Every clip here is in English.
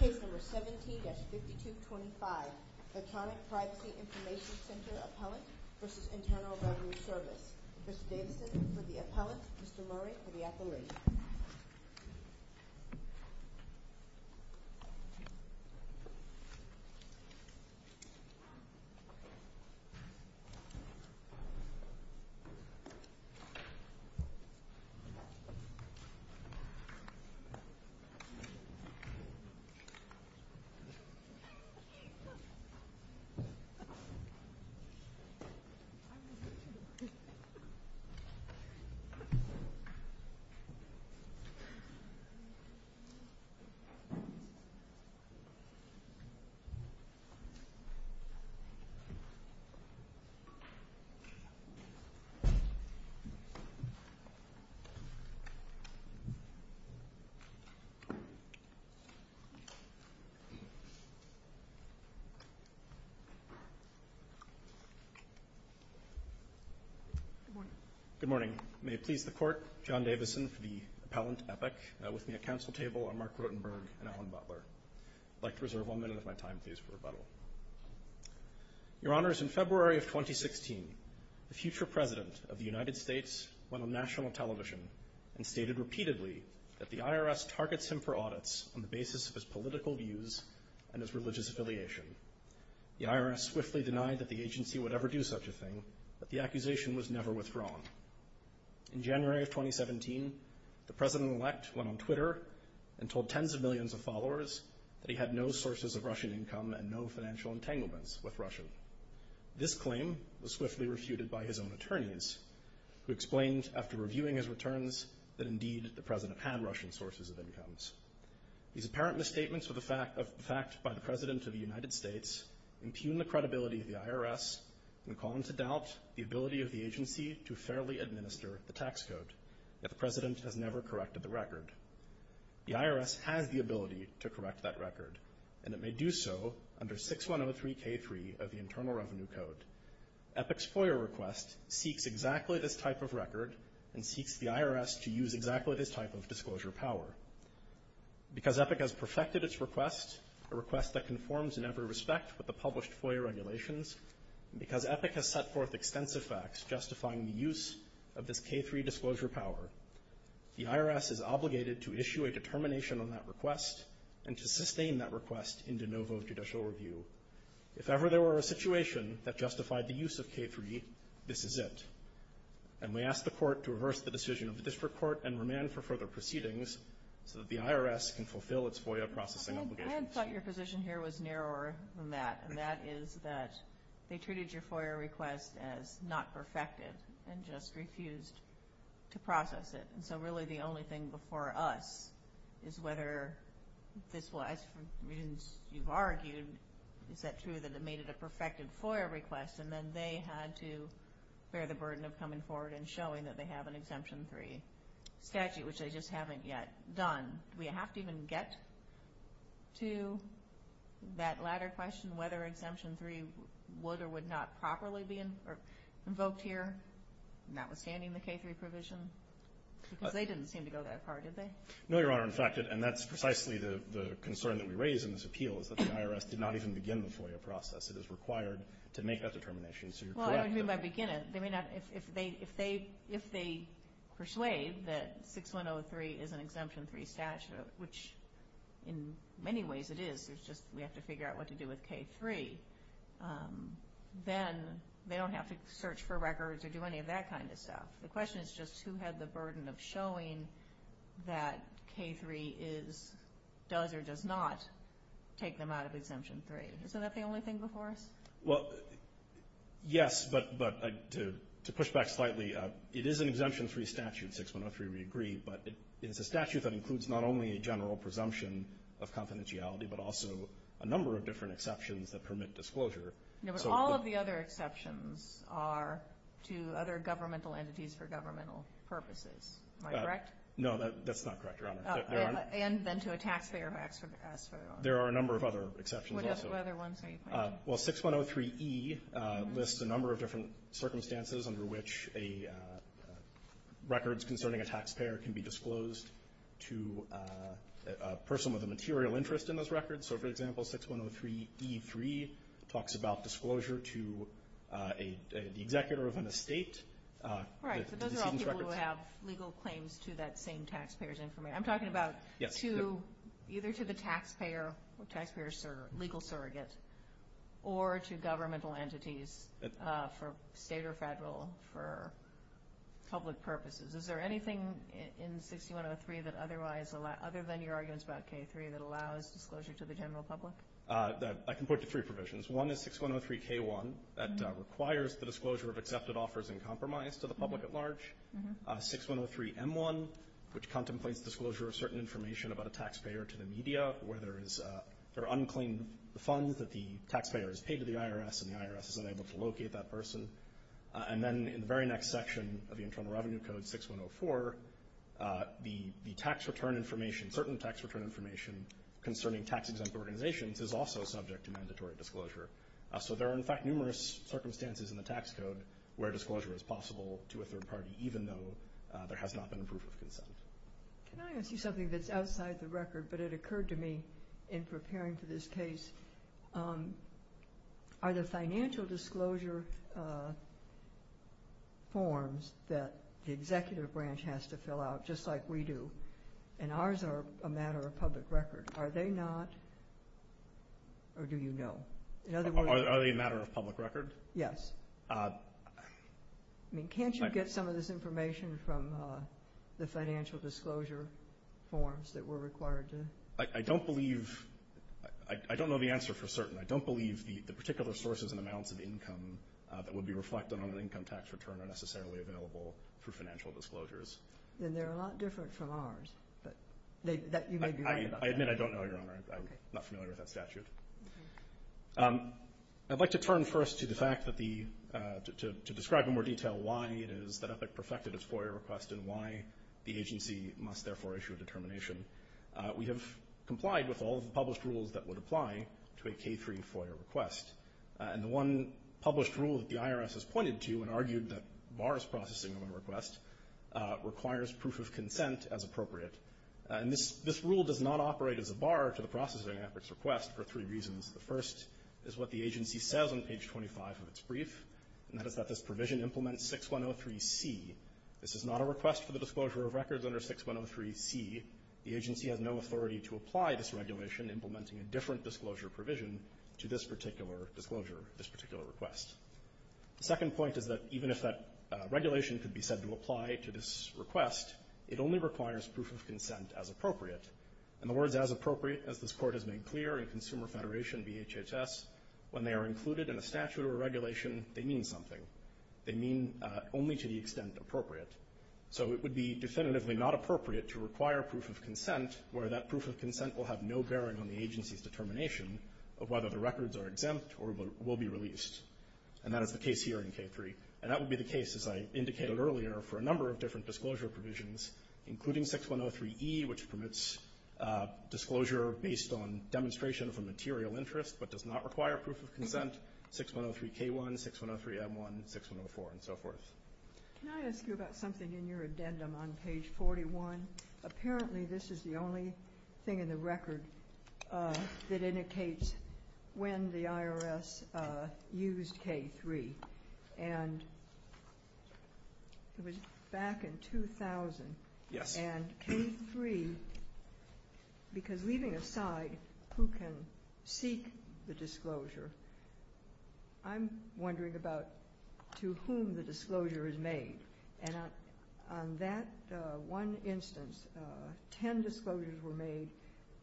Case number 17-5225, Electronic Privacy Information Center Appellant v. Internal Revenue Service. Mr. Davidson for the Appellant, Mr. Murray for the Appellant. Thank you. Thank you. Thank you. Good morning. Good morning. May it please the Court, John Davidson for the Appellant, Epic. With me at council table are Mark Rotenberg and Alan Butler. I'd like to reserve one minute of my time, please, for rebuttal. Your Honors, in February of 2016, the future President of the United States went on national television and stated repeatedly that the IRS targets him for audits on the basis of his political views and his religious affiliation. The IRS swiftly denied that the agency would ever do such a thing, but the accusation was never withdrawn. In January of 2017, the President-elect went on Twitter and told tens of millions of followers that he had no sources of Russian income and no financial entanglements with Russia. This claim was swiftly refuted by his own attorneys, who explained after reviewing his returns These apparent misstatements of the fact by the President of the United States impugn the credibility of the IRS and call into doubt the ability of the agency to fairly administer the tax code, yet the President has never corrected the record. The IRS has the ability to correct that record, and it may do so under 6103k3 of the Internal Revenue Code. EPIC's FOIA request seeks exactly this type of record and seeks the IRS to use exactly this type of disclosure power. Because EPIC has perfected its request, a request that conforms in every respect with the published FOIA regulations, and because EPIC has set forth extensive facts justifying the use of this k3 disclosure power, the IRS is obligated to issue a determination on that request and to sustain that request in de novo judicial review. If ever there were a situation that justified the use of k3, this is it. And we ask the Court to reverse the decision of the District Court and remand for further proceedings so that the IRS can fulfill its FOIA processing obligations. I thought your position here was narrower than that, and that is that they treated your FOIA request as not perfected and just refused to process it. And so really the only thing before us is whether this was, as you've argued, is that true that it made it a perfected FOIA request? And then they had to bear the burden of coming forward and showing that they have an Exemption 3 statute, which they just haven't yet done. Do we have to even get to that latter question, whether Exemption 3 would or would not properly be invoked here, notwithstanding the k3 provision? Because they didn't seem to go that far, did they? No, Your Honor. In fact, and that's precisely the concern that we raise in this appeal, is that the IRS did not even begin the FOIA process. It is required to make that determination. So you're correct. Well, I don't mean by begin it. They may not. If they persuade that 6103 is an Exemption 3 statute, which in many ways it is, it's just we have to figure out what to do with k3, then they don't have to search for records or do any of that kind of stuff. The question is just who had the burden of showing that k3 does or does not take them out of Exemption 3. Isn't that the only thing before us? Well, yes, but to push back slightly, it is an Exemption 3 statute, 6103 we agree, but it's a statute that includes not only a general presumption of confidentiality, but also a number of different exceptions that permit disclosure. No, but all of the other exceptions are to other governmental entities for governmental purposes. Am I correct? No, that's not correct, Your Honor. And then to a taxpayer who asks for it. There are a number of other exceptions also. What other ones are you pointing to? Well, 6103E lists a number of different circumstances under which records concerning a taxpayer can be disclosed to a person with a material interest in those records. So, for example, 6103E3 talks about disclosure to the executor of an estate. Right, so those are all people who have legal claims to that same taxpayer's information. I'm talking about either to the taxpayer, taxpayer's legal surrogate, or to governmental entities for state or federal, for public purposes. Is there anything in 6103 that otherwise, other than your arguments about K3, that allows disclosure to the general public? I can point to three provisions. One is 6103K1 that requires the disclosure of accepted offers in compromise to the public at large. 6103M1, which contemplates disclosure of certain information about a taxpayer to the media, where there are unclean funds that the taxpayer has paid to the IRS, and the IRS is unable to locate that person. And then in the very next section of the Internal Revenue Code 6104, the tax return information, certain tax return information, concerning tax exempt organizations is also subject to mandatory disclosure. So there are, in fact, numerous circumstances in the tax code where disclosure is possible to a third party, even though there has not been a proof of consent. Can I ask you something that's outside the record, but it occurred to me in preparing for this case? Are the financial disclosure forms that the executive branch has to fill out, just like we do, and ours are a matter of public record, are they not, or do you know? Are they a matter of public record? Yes. I mean, can't you get some of this information from the financial disclosure forms that we're required to? I don't believe, I don't know the answer for certain. I don't believe the particular sources and amounts of income that would be reflected on an income tax return are necessarily available through financial disclosures. Then they're a lot different from ours, but you may be right about that. I admit I don't know, Your Honor. I'm not familiar with that statute. I'd like to turn first to the fact that the, to describe in more detail why it is that EPIC perfected its FOIA request and why the agency must therefore issue a determination. We have complied with all of the published rules that would apply to a K-3 FOIA request, and the one published rule that the IRS has pointed to and argued that bars processing of a request requires proof of consent as appropriate, and this rule does not operate as a bar to the processing of EPIC's request for three reasons. The first is what the agency says on page 25 of its brief, and that is that this provision implements 6103C. This is not a request for the disclosure of records under 6103C. The agency has no authority to apply this regulation implementing a different disclosure provision to this particular disclosure, this particular request. The second point is that even if that regulation could be said to apply to this request, it only requires proof of consent as appropriate. In other words, as appropriate as this Court has made clear in Consumer Federation v. HHS, when they are included in a statute or a regulation, they mean something. They mean only to the extent appropriate. So it would be definitively not appropriate to require proof of consent where that proof of consent will have no bearing on the agency's determination of whether the records are exempt or will be released, and that is the case here in K-3. And that would be the case, as I indicated earlier, for a number of different disclosure provisions, including 6103E, which permits disclosure based on demonstration of a material interest but does not require proof of consent, 6103K1, 6103M1, 6104, and so forth. Can I ask you about something in your addendum on page 41? Apparently this is the only thing in the record that indicates when the IRS used K-3, and it was back in 2000. Yes. And K-3, because leaving aside who can seek the disclosure, I'm wondering about to whom the disclosure is made. And on that one instance, ten disclosures were made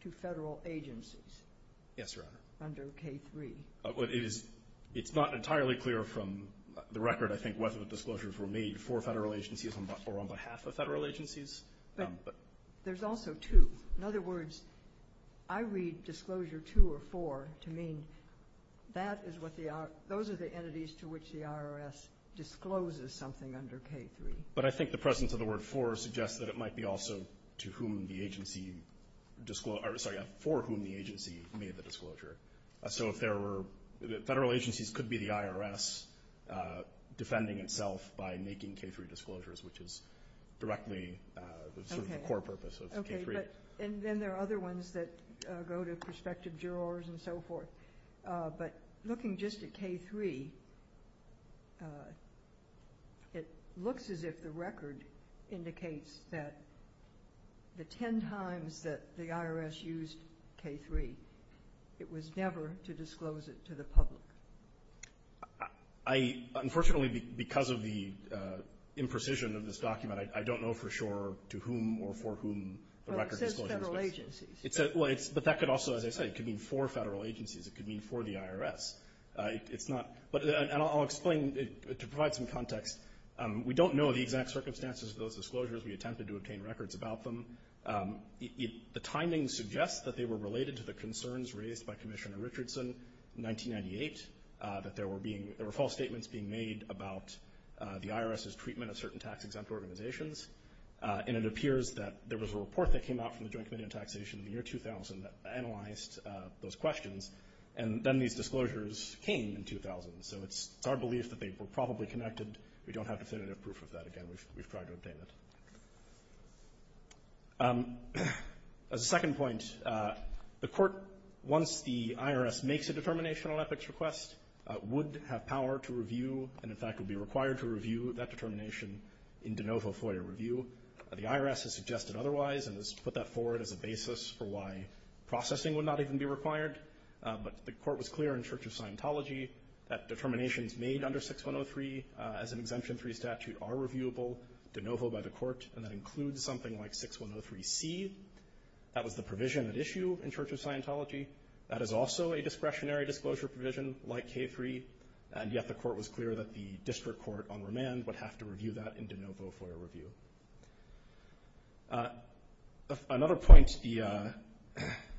to Federal agencies. Yes, Your Honor. Under K-3. It is not entirely clear from the record, I think, whether the disclosures were made for Federal agencies or on behalf of Federal agencies. But there's also two. In other words, I read disclosure two or four to mean those are the entities to which the IRS discloses something under K-3. But I think the presence of the word for suggests that it might be also for whom the agency made the disclosure. So Federal agencies could be the IRS defending itself by making K-3 disclosures, which is directly the core purpose of K-3. Okay. And then there are other ones that go to prospective jurors and so forth. But looking just at K-3, it looks as if the record indicates that the ten times that the IRS used K-3, it was never to disclose it to the public. Unfortunately, because of the imprecision of this document, I don't know for sure to whom or for whom the record disclosure was made. Well, it says Federal agencies. Well, but that could also, as I say, it could mean for Federal agencies. It could mean for the IRS. It's not – and I'll explain to provide some context. We don't know the exact circumstances of those disclosures. We attempted to obtain records about them. The timing suggests that they were related to the concerns raised by Commissioner Richardson in 1998, that there were being – there were false statements being made about the IRS's treatment of certain tax-exempt organizations. And it appears that there was a report that came out from the Joint Committee on Taxation in the year 2000 that analyzed those questions. And then these disclosures came in 2000. So it's our belief that they were probably connected. We don't have definitive proof of that. Again, we've tried to obtain it. As a second point, the Court, once the IRS makes a determination on EPIC's request, would have power to review and, in fact, would be required to review that determination in de novo FOIA review. The IRS has suggested otherwise and has put that forward as a basis for why processing would not even be required. But the Court was clear in Church of Scientology that determinations made under 6103 as an Exemption 3 statute are reviewable de novo by the Court, and that includes something like 6103C. That was the provision at issue in Church of Scientology. That is also a discretionary disclosure provision like K3. And yet the Court was clear that the district court on remand would have to review that in de novo FOIA review. Another point, the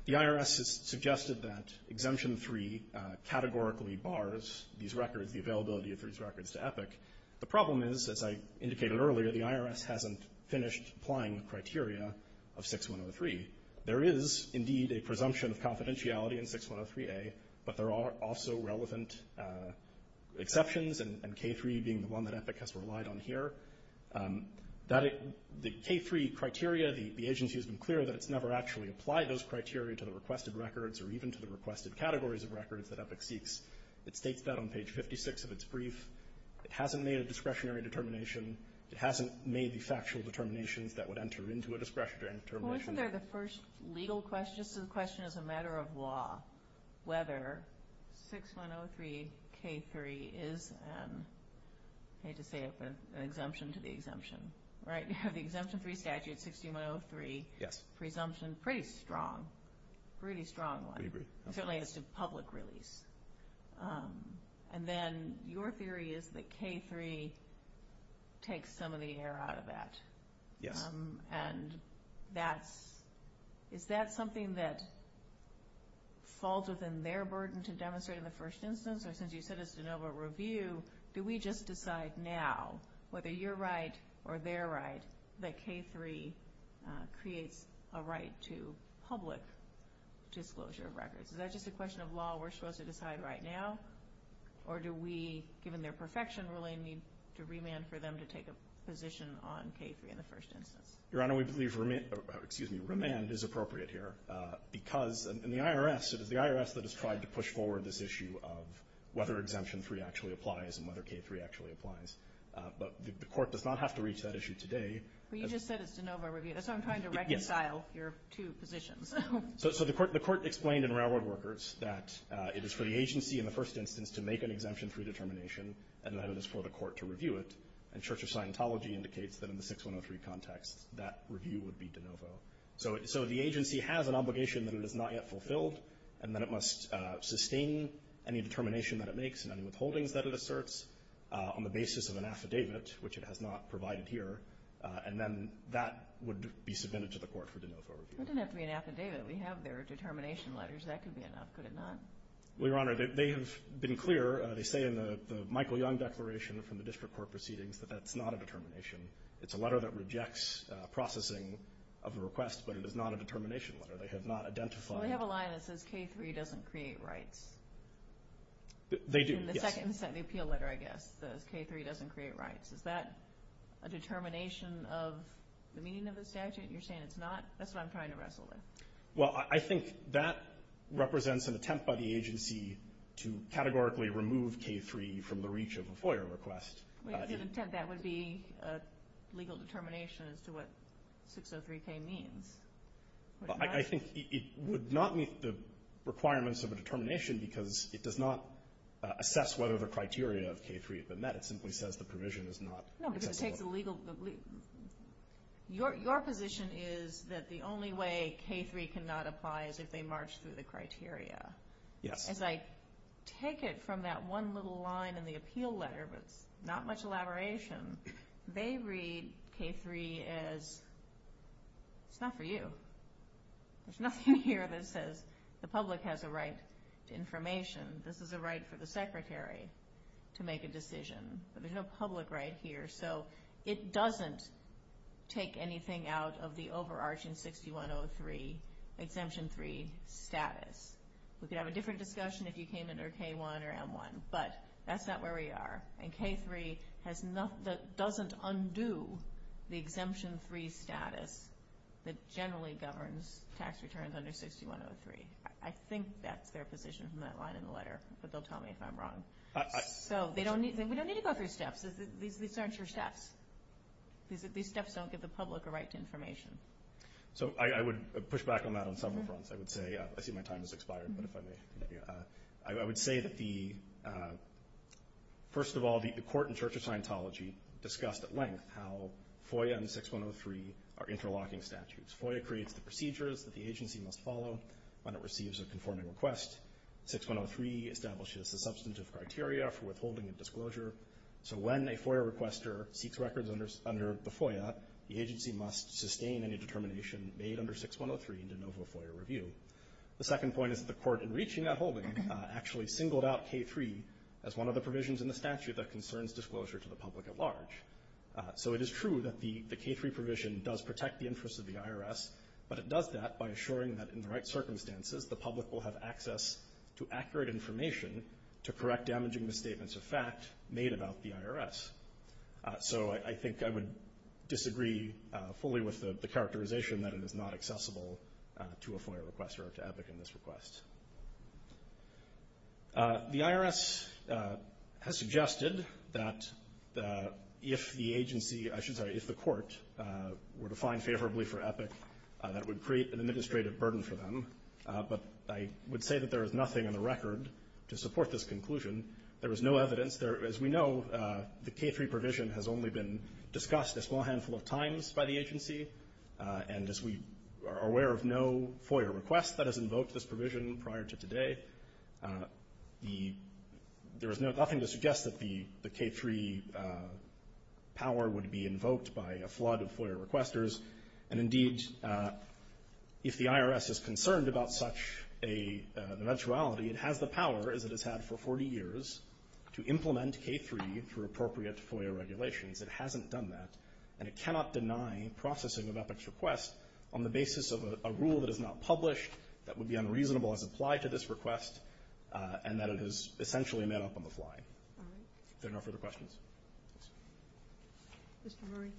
IRS has suggested that Exemption 3 categorically bars these records, the availability of these records to EPIC. The problem is, as I indicated earlier, the IRS hasn't finished applying the criteria of 6103. There is, indeed, a presumption of confidentiality in 6103A, but there are also relevant exceptions, and K3 being the one that EPIC has relied on here. The K3 criteria, the agency has been clear that it's never actually applied those criteria to the requested records or even to the requested categories of records that EPIC seeks. It states that on page 56 of its brief. It hasn't made a discretionary determination. It hasn't made the factual determinations that would enter into a discretionary determination. So isn't there the first legal question, just a question as a matter of law, whether 6103K3 is an, I hate to say it, an exemption to the exemption, right? You have the Exemption 3 statute, 6103. Yes. Presumption, pretty strong, pretty strong one. We agree. Certainly as to public release. And then your theory is that K3 takes some of the air out of that. Yes. And that's, is that something that falls within their burden to demonstrate in the first instance? Or since you said it's de novo review, do we just decide now, whether you're right or they're right, that K3 creates a right to public disclosure of records? Is that just a question of law we're supposed to decide right now? Or do we, given their perfection ruling, need to remand for them to take a position on K3 in the first instance? Your Honor, we believe remand is appropriate here because in the IRS, it is the IRS that has tried to push forward this issue of whether Exemption 3 actually applies and whether K3 actually applies. But the Court does not have to reach that issue today. But you just said it's de novo review. That's why I'm trying to reconcile your two positions. So the Court explained in Railroad Workers that it is for the agency in the first instance to make an Exemption 3 determination and that it is for the Court to review it. And Church of Scientology indicates that in the 6103 context, that review would be de novo. So the agency has an obligation that it has not yet fulfilled, and that it must sustain any determination that it makes and any withholdings that it asserts on the basis of an affidavit, which it has not provided here. And then that would be submitted to the Court for de novo review. It doesn't have to be an affidavit. We have there determination letters. That could be enough, could it not? Well, Your Honor, they have been clear. They say in the Michael Young declaration from the district court proceedings that that's not a determination. It's a letter that rejects processing of the request, but it is not a determination letter. They have not identified it. Well, they have a line that says K3 doesn't create rights. They do, yes. In the second appeal letter, I guess, it says K3 doesn't create rights. Is that a determination of the meaning of the statute? You're saying it's not? That's what I'm trying to wrestle with. Well, I think that represents an attempt by the agency to categorically remove K3 from the reach of a FOIA request. Wait a minute. That would be a legal determination as to what 603K means. I think it would not meet the requirements of a determination because it does not assess whether the criteria of K3 have been met. It simply says the provision is not accessible. No, because it takes a legal— Your position is that the only way K3 cannot apply is if they march through the criteria. Yes. As I take it from that one little line in the appeal letter, but it's not much elaboration, they read K3 as it's not for you. There's nothing here that says the public has a right to information. This is a right for the secretary to make a decision. But there's no public right here. So it doesn't take anything out of the overarching 6103 Exemption 3 status. We could have a different discussion if you came under K1 or M1, but that's not where we are. And K3 doesn't undo the Exemption 3 status that generally governs tax returns under 6103. I think that's their position from that line in the letter, but they'll tell me if I'm wrong. So we don't need to go through steps. These aren't your steps. These steps don't give the public a right to information. So I would push back on that on several fronts. I see my time has expired, but if I may. I would say that, first of all, the court and Church of Scientology discussed at length how FOIA and 6103 are interlocking statutes. FOIA creates the procedures that the agency must follow when it receives a conforming request. 6103 establishes the substantive criteria for withholding a disclosure. So when a FOIA requester seeks records under the FOIA, the agency must sustain any determination made under 6103 in de novo FOIA review. The second point is that the court, in reaching that holding, actually singled out K3 as one of the provisions in the statute that concerns disclosure to the public at large. So it is true that the K3 provision does protect the interests of the IRS, but it does that by assuring that, in the right circumstances, the public will have access to accurate information to correct damaging misstatements of fact made about the IRS. So I think I would disagree fully with the characterization that it is not accessible to a FOIA requester or to EPIC in this request. The IRS has suggested that if the agency, I should say, if the court were to find favorably for EPIC, that would create an administrative burden for them. But I would say that there is nothing in the record to support this conclusion. There is no evidence. As we know, the K3 provision has only been discussed a small handful of times by the agency. And as we are aware of no FOIA request that has invoked this provision prior to today, there is nothing to suggest that the K3 power would be invoked by a flood of FOIA requesters. And indeed, if the IRS is concerned about such an eventuality, it has the power, as it has had for 40 years, to implement K3 through appropriate FOIA regulations. It hasn't done that. And it cannot deny processing of EPIC's request on the basis of a rule that is not published that would be unreasonable as applied to this request and that it is essentially made up on the fly. If there are no further questions. Mr. Murray.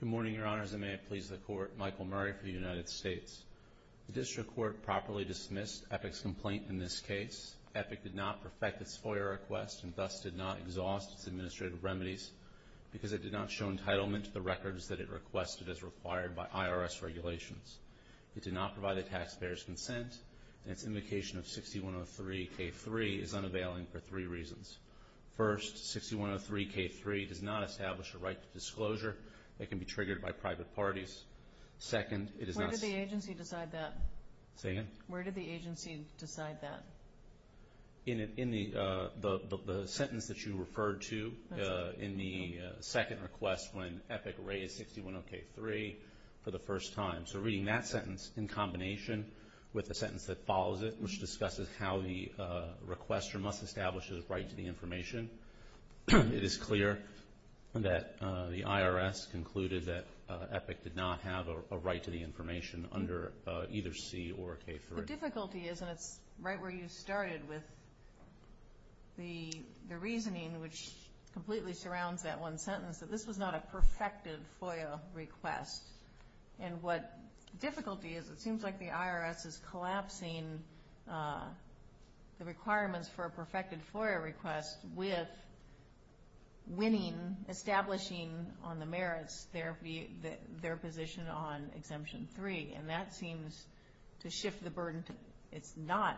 Good morning, Your Honors, and may it please the Court. Michael Murray for the United States. The District Court properly dismissed EPIC's complaint in this case. EPIC did not perfect its FOIA request and thus did not exhaust its administrative remedies because it did not show entitlement to the records that it requested as required by IRS regulations. It did not provide the taxpayers' consent, and its invocation of 6103 K3 is unavailing for three reasons. First, 6103 K3 does not establish a right to disclosure that can be triggered by private parties. Second, it is not... Where did the agency decide that? Say again? Where did the agency decide that? In the sentence that you referred to in the second request when EPIC raised 6103 for the first time. So reading that sentence in combination with the sentence that follows it, which discusses how the requester must establish his right to the information, it is clear that the IRS concluded that EPIC did not have a right to the information under either C or K3. The difficulty is, and it's right where you started with the reasoning which completely surrounds that one sentence, that this was not a perfected FOIA request. And what difficulty is, it seems like the IRS is collapsing the requirements for a perfected FOIA request with winning, establishing on the merits their position on Exemption 3. And that seems to shift the burden. It's not...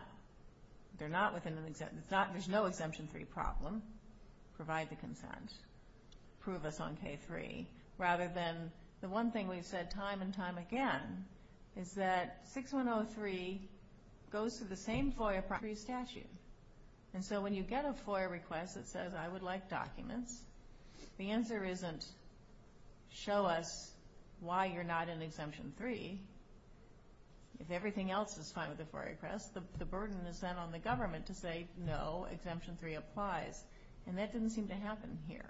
They're not within an exemption. It's not... There's no Exemption 3 problem. Provide the consent. Prove us on K3. Rather than the one thing we've said time and time again is that 6103 goes to the same FOIA statute. And so when you get a FOIA request that says I would like documents, the answer isn't show us why you're not in Exemption 3. If everything else is fine with the FOIA request, the burden is then on the government to say no, Exemption 3 applies. And that didn't seem to happen here.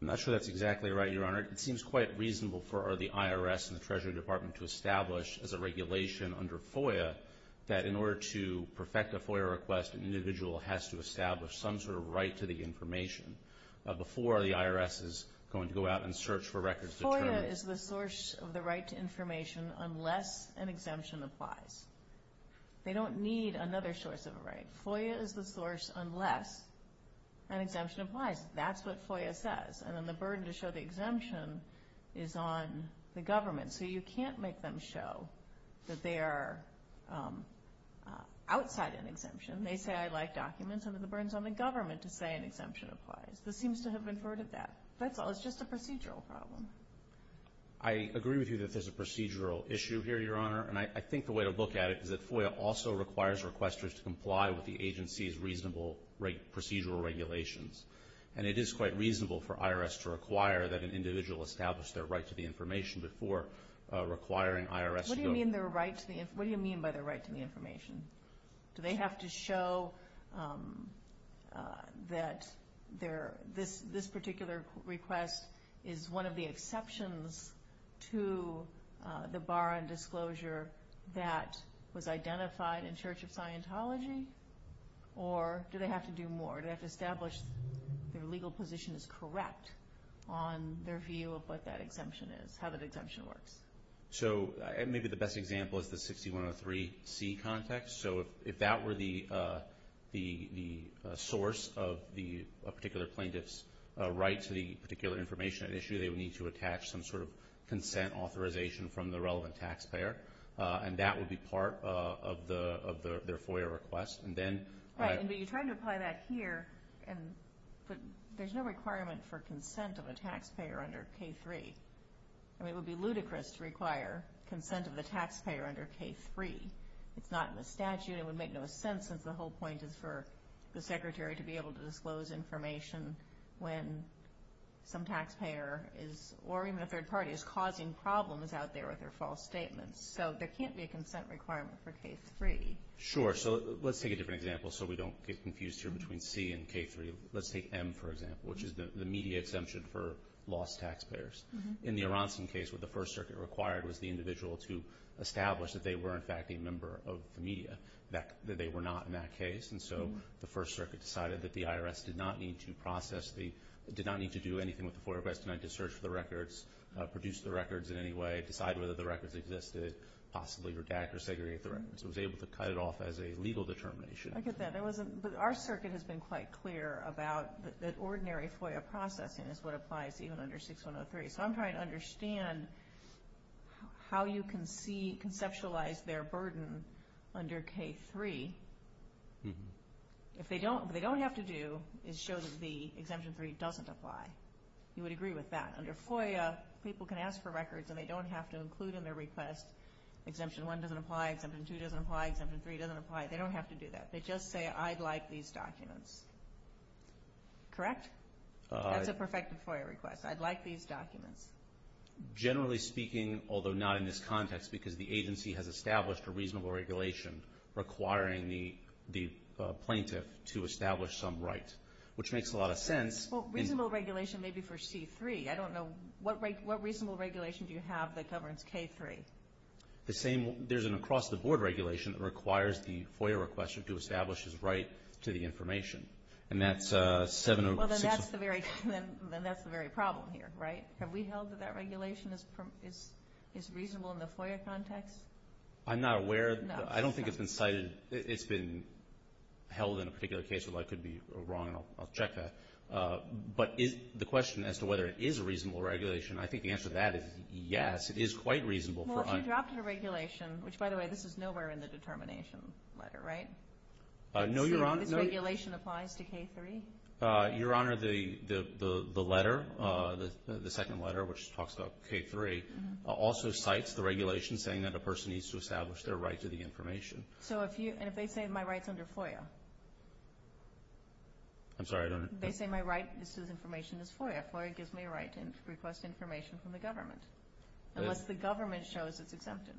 I'm not sure that's exactly right, Your Honor. It seems quite reasonable for the IRS and the Treasury Department to establish as a regulation under FOIA that in order to perfect a FOIA request, an individual has to establish some sort of right to the information before the IRS is going to go out and search for records to determine... FOIA is the source of the right to information unless an exemption applies. They don't need another source of a right. FOIA is the source unless an exemption applies. That's what FOIA says. And then the burden to show the exemption is on the government. So you can't make them show that they are outside an exemption. They say I'd like documents, and then the burden's on the government to say an exemption applies. This seems to have inverted that. That's all. It's just a procedural problem. I agree with you that there's a procedural issue here, Your Honor. And I think the way to look at it is that FOIA also requires requesters to comply with the agency's reasonable procedural regulations. And it is quite reasonable for IRS to require that an individual establish their right to the information before requiring IRS to go... What do you mean by their right to the information? Do they have to show that this particular request is one of the exceptions to the bar on disclosure that was identified in Church of Scientology? Or do they have to do more? Do they have to establish their legal position is correct on their view of what that exemption is, how that exemption works? So maybe the best example is the 6103C context. So if that were the source of a particular plaintiff's right to the particular information at issue, maybe they would need to attach some sort of consent authorization from the relevant taxpayer. And that would be part of their FOIA request. But you're trying to apply that here. There's no requirement for consent of a taxpayer under K-3. It would be ludicrous to require consent of the taxpayer under K-3. It's not in the statute. It would make no sense since the whole point is for the Secretary to be able to disclose information when some taxpayer or even a third party is causing problems out there with their false statements. So there can't be a consent requirement for K-3. Sure. So let's take a different example so we don't get confused here between C and K-3. Let's take M, for example, which is the media exemption for lost taxpayers. In the Aronson case, what the First Circuit required was the individual to establish that they were in fact a member of the media, that they were not in that case. And so the First Circuit decided that the IRS did not need to process the, did not need to do anything with the FOIA request, did not need to search for the records, produce the records in any way, decide whether the records existed, possibly redact or segregate the records. It was able to cut it off as a legal determination. I get that. But our circuit has been quite clear about that ordinary FOIA processing is what applies even under 6103. So I'm trying to understand how you can conceptualize their burden under K-3. If they don't, what they don't have to do is show that the exemption 3 doesn't apply. You would agree with that. Under FOIA, people can ask for records and they don't have to include in their request exemption 1 doesn't apply, exemption 2 doesn't apply, exemption 3 doesn't apply. They don't have to do that. They just say, I'd like these documents. Correct? That's a perfected FOIA request. I'd like these documents. Generally speaking, although not in this context because the agency has established a reasonable regulation requiring the plaintiff to establish some right, which makes a lot of sense. Well, reasonable regulation may be for C-3. I don't know. What reasonable regulation do you have that governs K-3? There's an across-the-board regulation that requires the FOIA requester to establish his right to the information. And that's 706. Well, then that's the very problem here, right? Have we held that that regulation is reasonable in the FOIA context? I'm not aware. No. I don't think it's been cited. It's been held in a particular case where I could be wrong, and I'll check that. But the question as to whether it is a reasonable regulation, I think the answer to that is yes, it is quite reasonable. Well, if you dropped a regulation, which, by the way, this is nowhere in the determination letter, right? No, Your Honor. This regulation applies to K-3? Your Honor, the letter, the second letter, which talks about K-3, also cites the regulation saying that a person needs to establish their right to the information. And if they say my right's under FOIA? I'm sorry? They say my right to this information is FOIA. FOIA gives me a right to request information from the government unless the government shows it's exempted.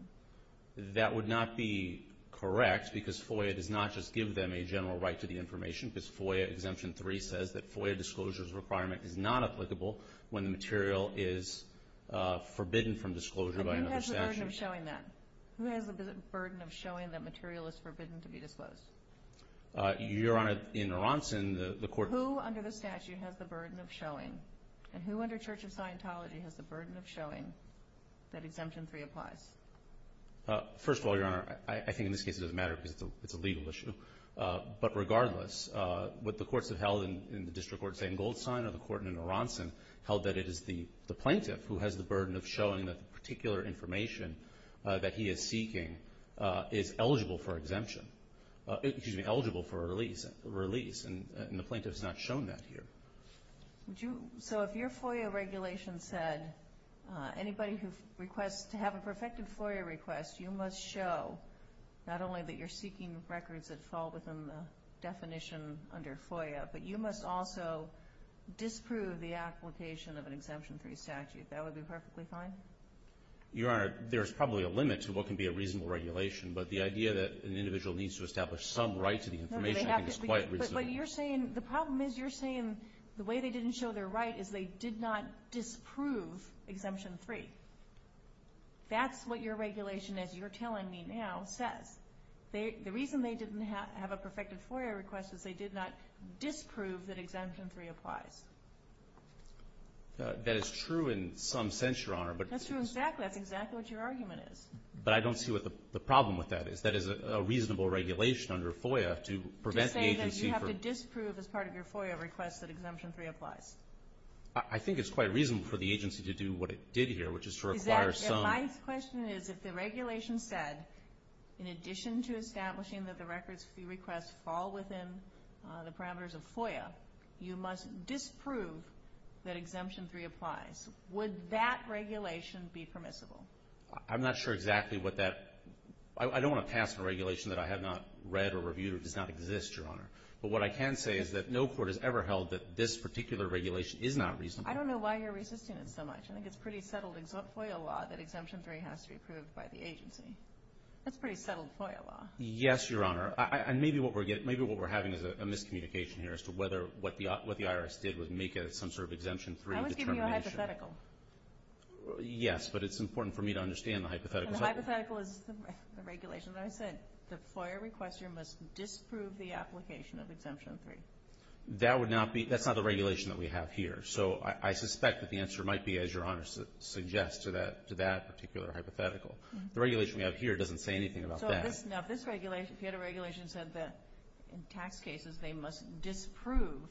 That would not be correct because FOIA does not just give them a general right to the information because FOIA Exemption 3 says that FOIA disclosure's requirement is not applicable when the material is forbidden from disclosure by another statute. But who has the burden of showing that? Who has the burden of showing that material is forbidden to be disclosed? Your Honor, in Aronson, the court — Who under the statute has the burden of showing? And who under Church of Scientology has the burden of showing that Exemption 3 applies? First of all, Your Honor, I think in this case it doesn't matter because it's a legal issue. But regardless, what the courts have held in the District Court, say, in Goldstein, or the court in Aronson, held that it is the plaintiff who has the burden of showing that the particular information that he is seeking is eligible for a release. And the plaintiff has not shown that here. So if your FOIA regulation said anybody who requests to have a perfected FOIA request, you must show not only that you're seeking records that fall within the definition under FOIA, but you must also disprove the application of an Exemption 3 statute. That would be perfectly fine? Your Honor, there's probably a limit to what can be a reasonable regulation, but the idea that an individual needs to establish some right to the information is quite reasonable. But you're saying – the problem is you're saying the way they didn't show their right is they did not disprove Exemption 3. That's what your regulation, as you're telling me now, says. The reason they didn't have a perfected FOIA request is they did not disprove that Exemption 3 applies. That is true in some sense, Your Honor, but – That's true exactly. That's exactly what your argument is. But I don't see what the problem with that is. That is a reasonable regulation under FOIA to prevent the agency from – To say that you have to disprove as part of your FOIA request that Exemption 3 applies. I think it's quite reasonable for the agency to do what it did here, which is to require some – My question is if the regulation said, in addition to establishing that the records fee requests fall within the parameters of FOIA, you must disprove that Exemption 3 applies, would that regulation be permissible? I'm not sure exactly what that – I don't want to pass a regulation that I have not read or reviewed or does not exist, Your Honor. But what I can say is that no court has ever held that this particular regulation is not reasonable. I don't know why you're resisting it so much. I think it's pretty settled FOIA law that Exemption 3 has to be approved by the agency. That's pretty settled FOIA law. Yes, Your Honor. And maybe what we're having is a miscommunication here as to whether what the IRS did was make it some sort of Exemption 3 determination. I was giving you a hypothetical. Yes, but it's important for me to understand the hypothetical. The hypothetical is the regulation. When I said the FOIA requester must disprove the application of Exemption 3. That would not be – that's not the regulation that we have here. So I suspect that the answer might be, as Your Honor suggests, to that particular hypothetical. The regulation we have here doesn't say anything about that. Now, if this regulation – if you had a regulation that said that in tax cases they must disprove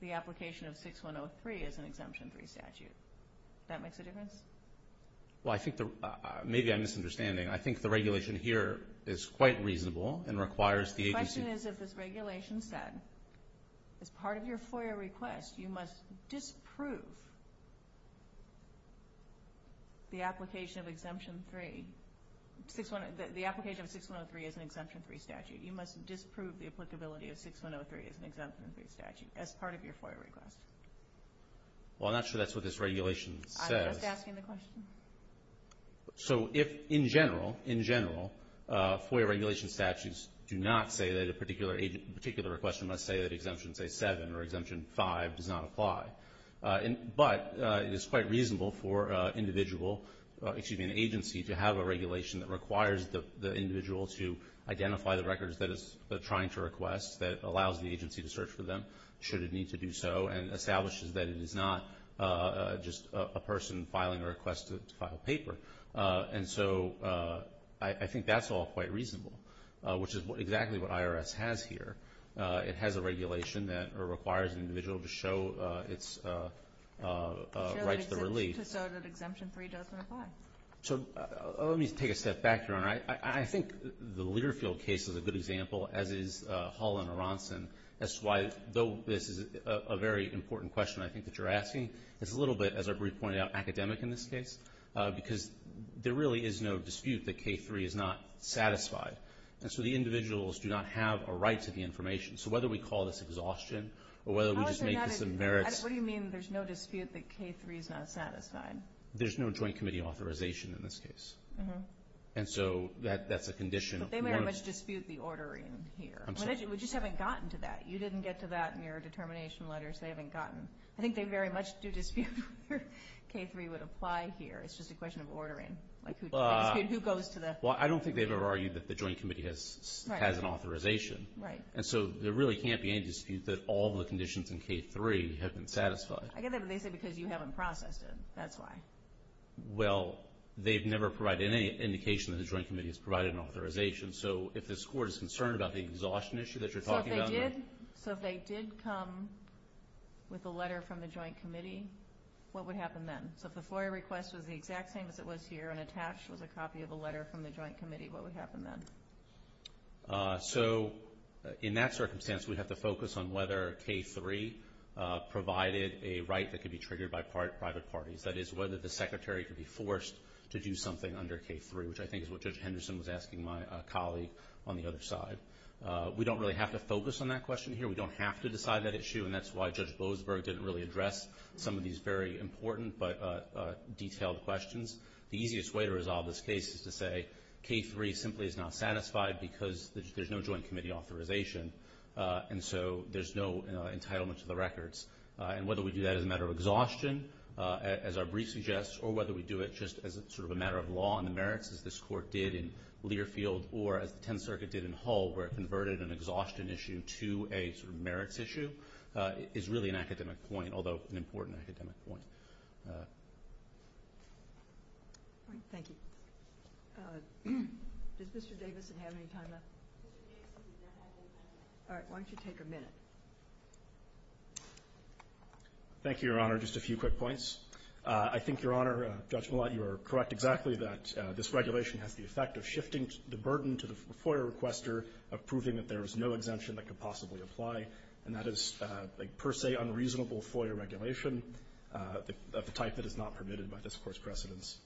the application of 6103 as an Exemption 3 statute, that makes a difference? Well, I think – maybe I'm misunderstanding. I think the regulation here is quite reasonable and requires the agency – The question is if this regulation said, as part of your FOIA request, you must disprove the application of Exemption 3 – the application of 6103 as an Exemption 3 statute. You must disprove the applicability of 6103 as an Exemption 3 statute as part of your FOIA request. Well, I'm not sure that's what this regulation says. I'm just asking the question. So if, in general, in general, FOIA regulation statutes do not say that a particular agent – a particular requester must say that Exemption, say, 7 or Exemption 5 does not apply, but it is quite reasonable for an individual – excuse me, an agency to have a regulation that requires the individual to identify the records that it's trying to request, that allows the agency to search for them should it need to do so, and establishes that it is not just a person filing a request to file paper. And so I think that's all quite reasonable, which is exactly what IRS has here. It has a regulation that requires an individual to show its right to the relief. To show that Exemption 3 doesn't apply. So let me take a step back, Your Honor. I think the Learfield case is a good example, as is Hall and Aronson. That's why, though this is a very important question I think that you're asking, it's a little bit, as our brief pointed out, academic in this case, because there really is no dispute that K-3 is not satisfied. And so the individuals do not have a right to the information. So whether we call this exhaustion or whether we just make this a merits – How is there not a – what do you mean there's no dispute that K-3 is not satisfied? There's no joint committee authorization in this case. And so that's a condition – But they may not dispute the ordering here. We just haven't gotten to that. You didn't get to that in your determination letters. They haven't gotten – I think they very much do dispute where K-3 would apply here. It's just a question of ordering. Who goes to the – Well, I don't think they've ever argued that the joint committee has an authorization. Right. And so there really can't be any dispute that all the conditions in K-3 have been satisfied. I get that, but they say because you haven't processed it. That's why. Well, they've never provided any indication that the joint committee has provided an authorization. So if this Court is concerned about the exhaustion issue that you're talking about – So if they did come with a letter from the joint committee, what would happen then? So if the FOIA request was the exact same as it was here and attached was a copy of a letter from the joint committee, what would happen then? So in that circumstance, we'd have to focus on whether K-3 provided a right that could be triggered by private parties. That is, whether the Secretary could be forced to do something under K-3, which I think is what Judge Henderson was asking my colleague on the other side. We don't really have to focus on that question here. We don't have to decide that issue, and that's why Judge Boasberg didn't really address some of these very important but detailed questions. The easiest way to resolve this case is to say K-3 simply is not satisfied because there's no joint committee authorization, and so there's no entitlement to the records. And whether we do that as a matter of exhaustion, as our brief suggests, or whether we do it just as sort of a matter of law and the merits as this Court did in Learfield or as the Tenth Circuit did in Hull where it converted an exhaustion issue to a sort of merits issue is really an academic point, although an important academic point. Thank you. Does Mr. Davidson have any time left? All right, why don't you take a minute? Thank you, Your Honor. Just a few quick points. I think, Your Honor, Judge Millett, you are correct exactly that this regulation has the effect of shifting the burden to the FOIA requester of proving that there is no exemption that could possibly apply, and that is a per se unreasonable FOIA regulation of the type that is not permitted by this Court's precedents.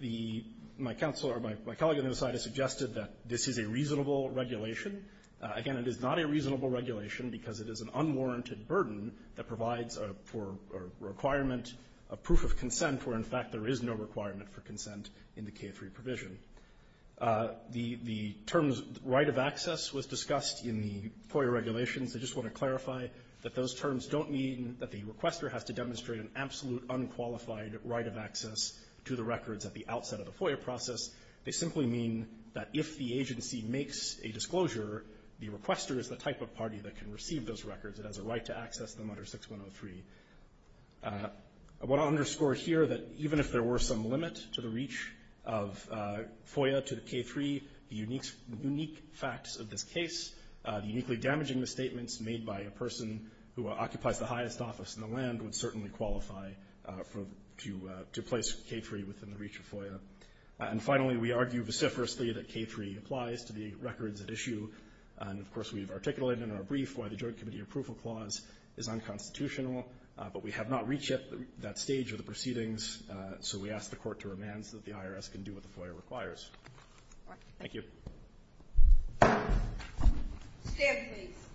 The my counsel or my colleague on the other side has suggested that this is a reasonable regulation. Again, it is not a reasonable regulation because it is an unwarranted burden that provides for a requirement, a proof of consent, where in fact there is no requirement for consent in the K-3 provision. The terms right of access was discussed in the FOIA regulations. I just want to clarify that those terms don't mean that the requester has to demonstrate an absolute unqualified right of access to the records at the outset of the FOIA process. They simply mean that if the agency makes a disclosure, the requester is the type of party that can receive those records. It has a right to access them under 6103. I want to underscore here that even if there were some limit to the reach of FOIA to the K-3, the unique facts of this case, uniquely damaging the statements made by a person who occupies the highest office in the land would certainly qualify to place K-3 within the reach of FOIA. And finally, we argue vociferously that K-3 applies to the records at issue, and of course we've articulated in our brief why the Joint Committee Approval Clause is unconstitutional, but we have not reached yet that stage of the proceedings, so we ask the Court to remand so that the IRS can do what the FOIA requires. Thank you. Stand please.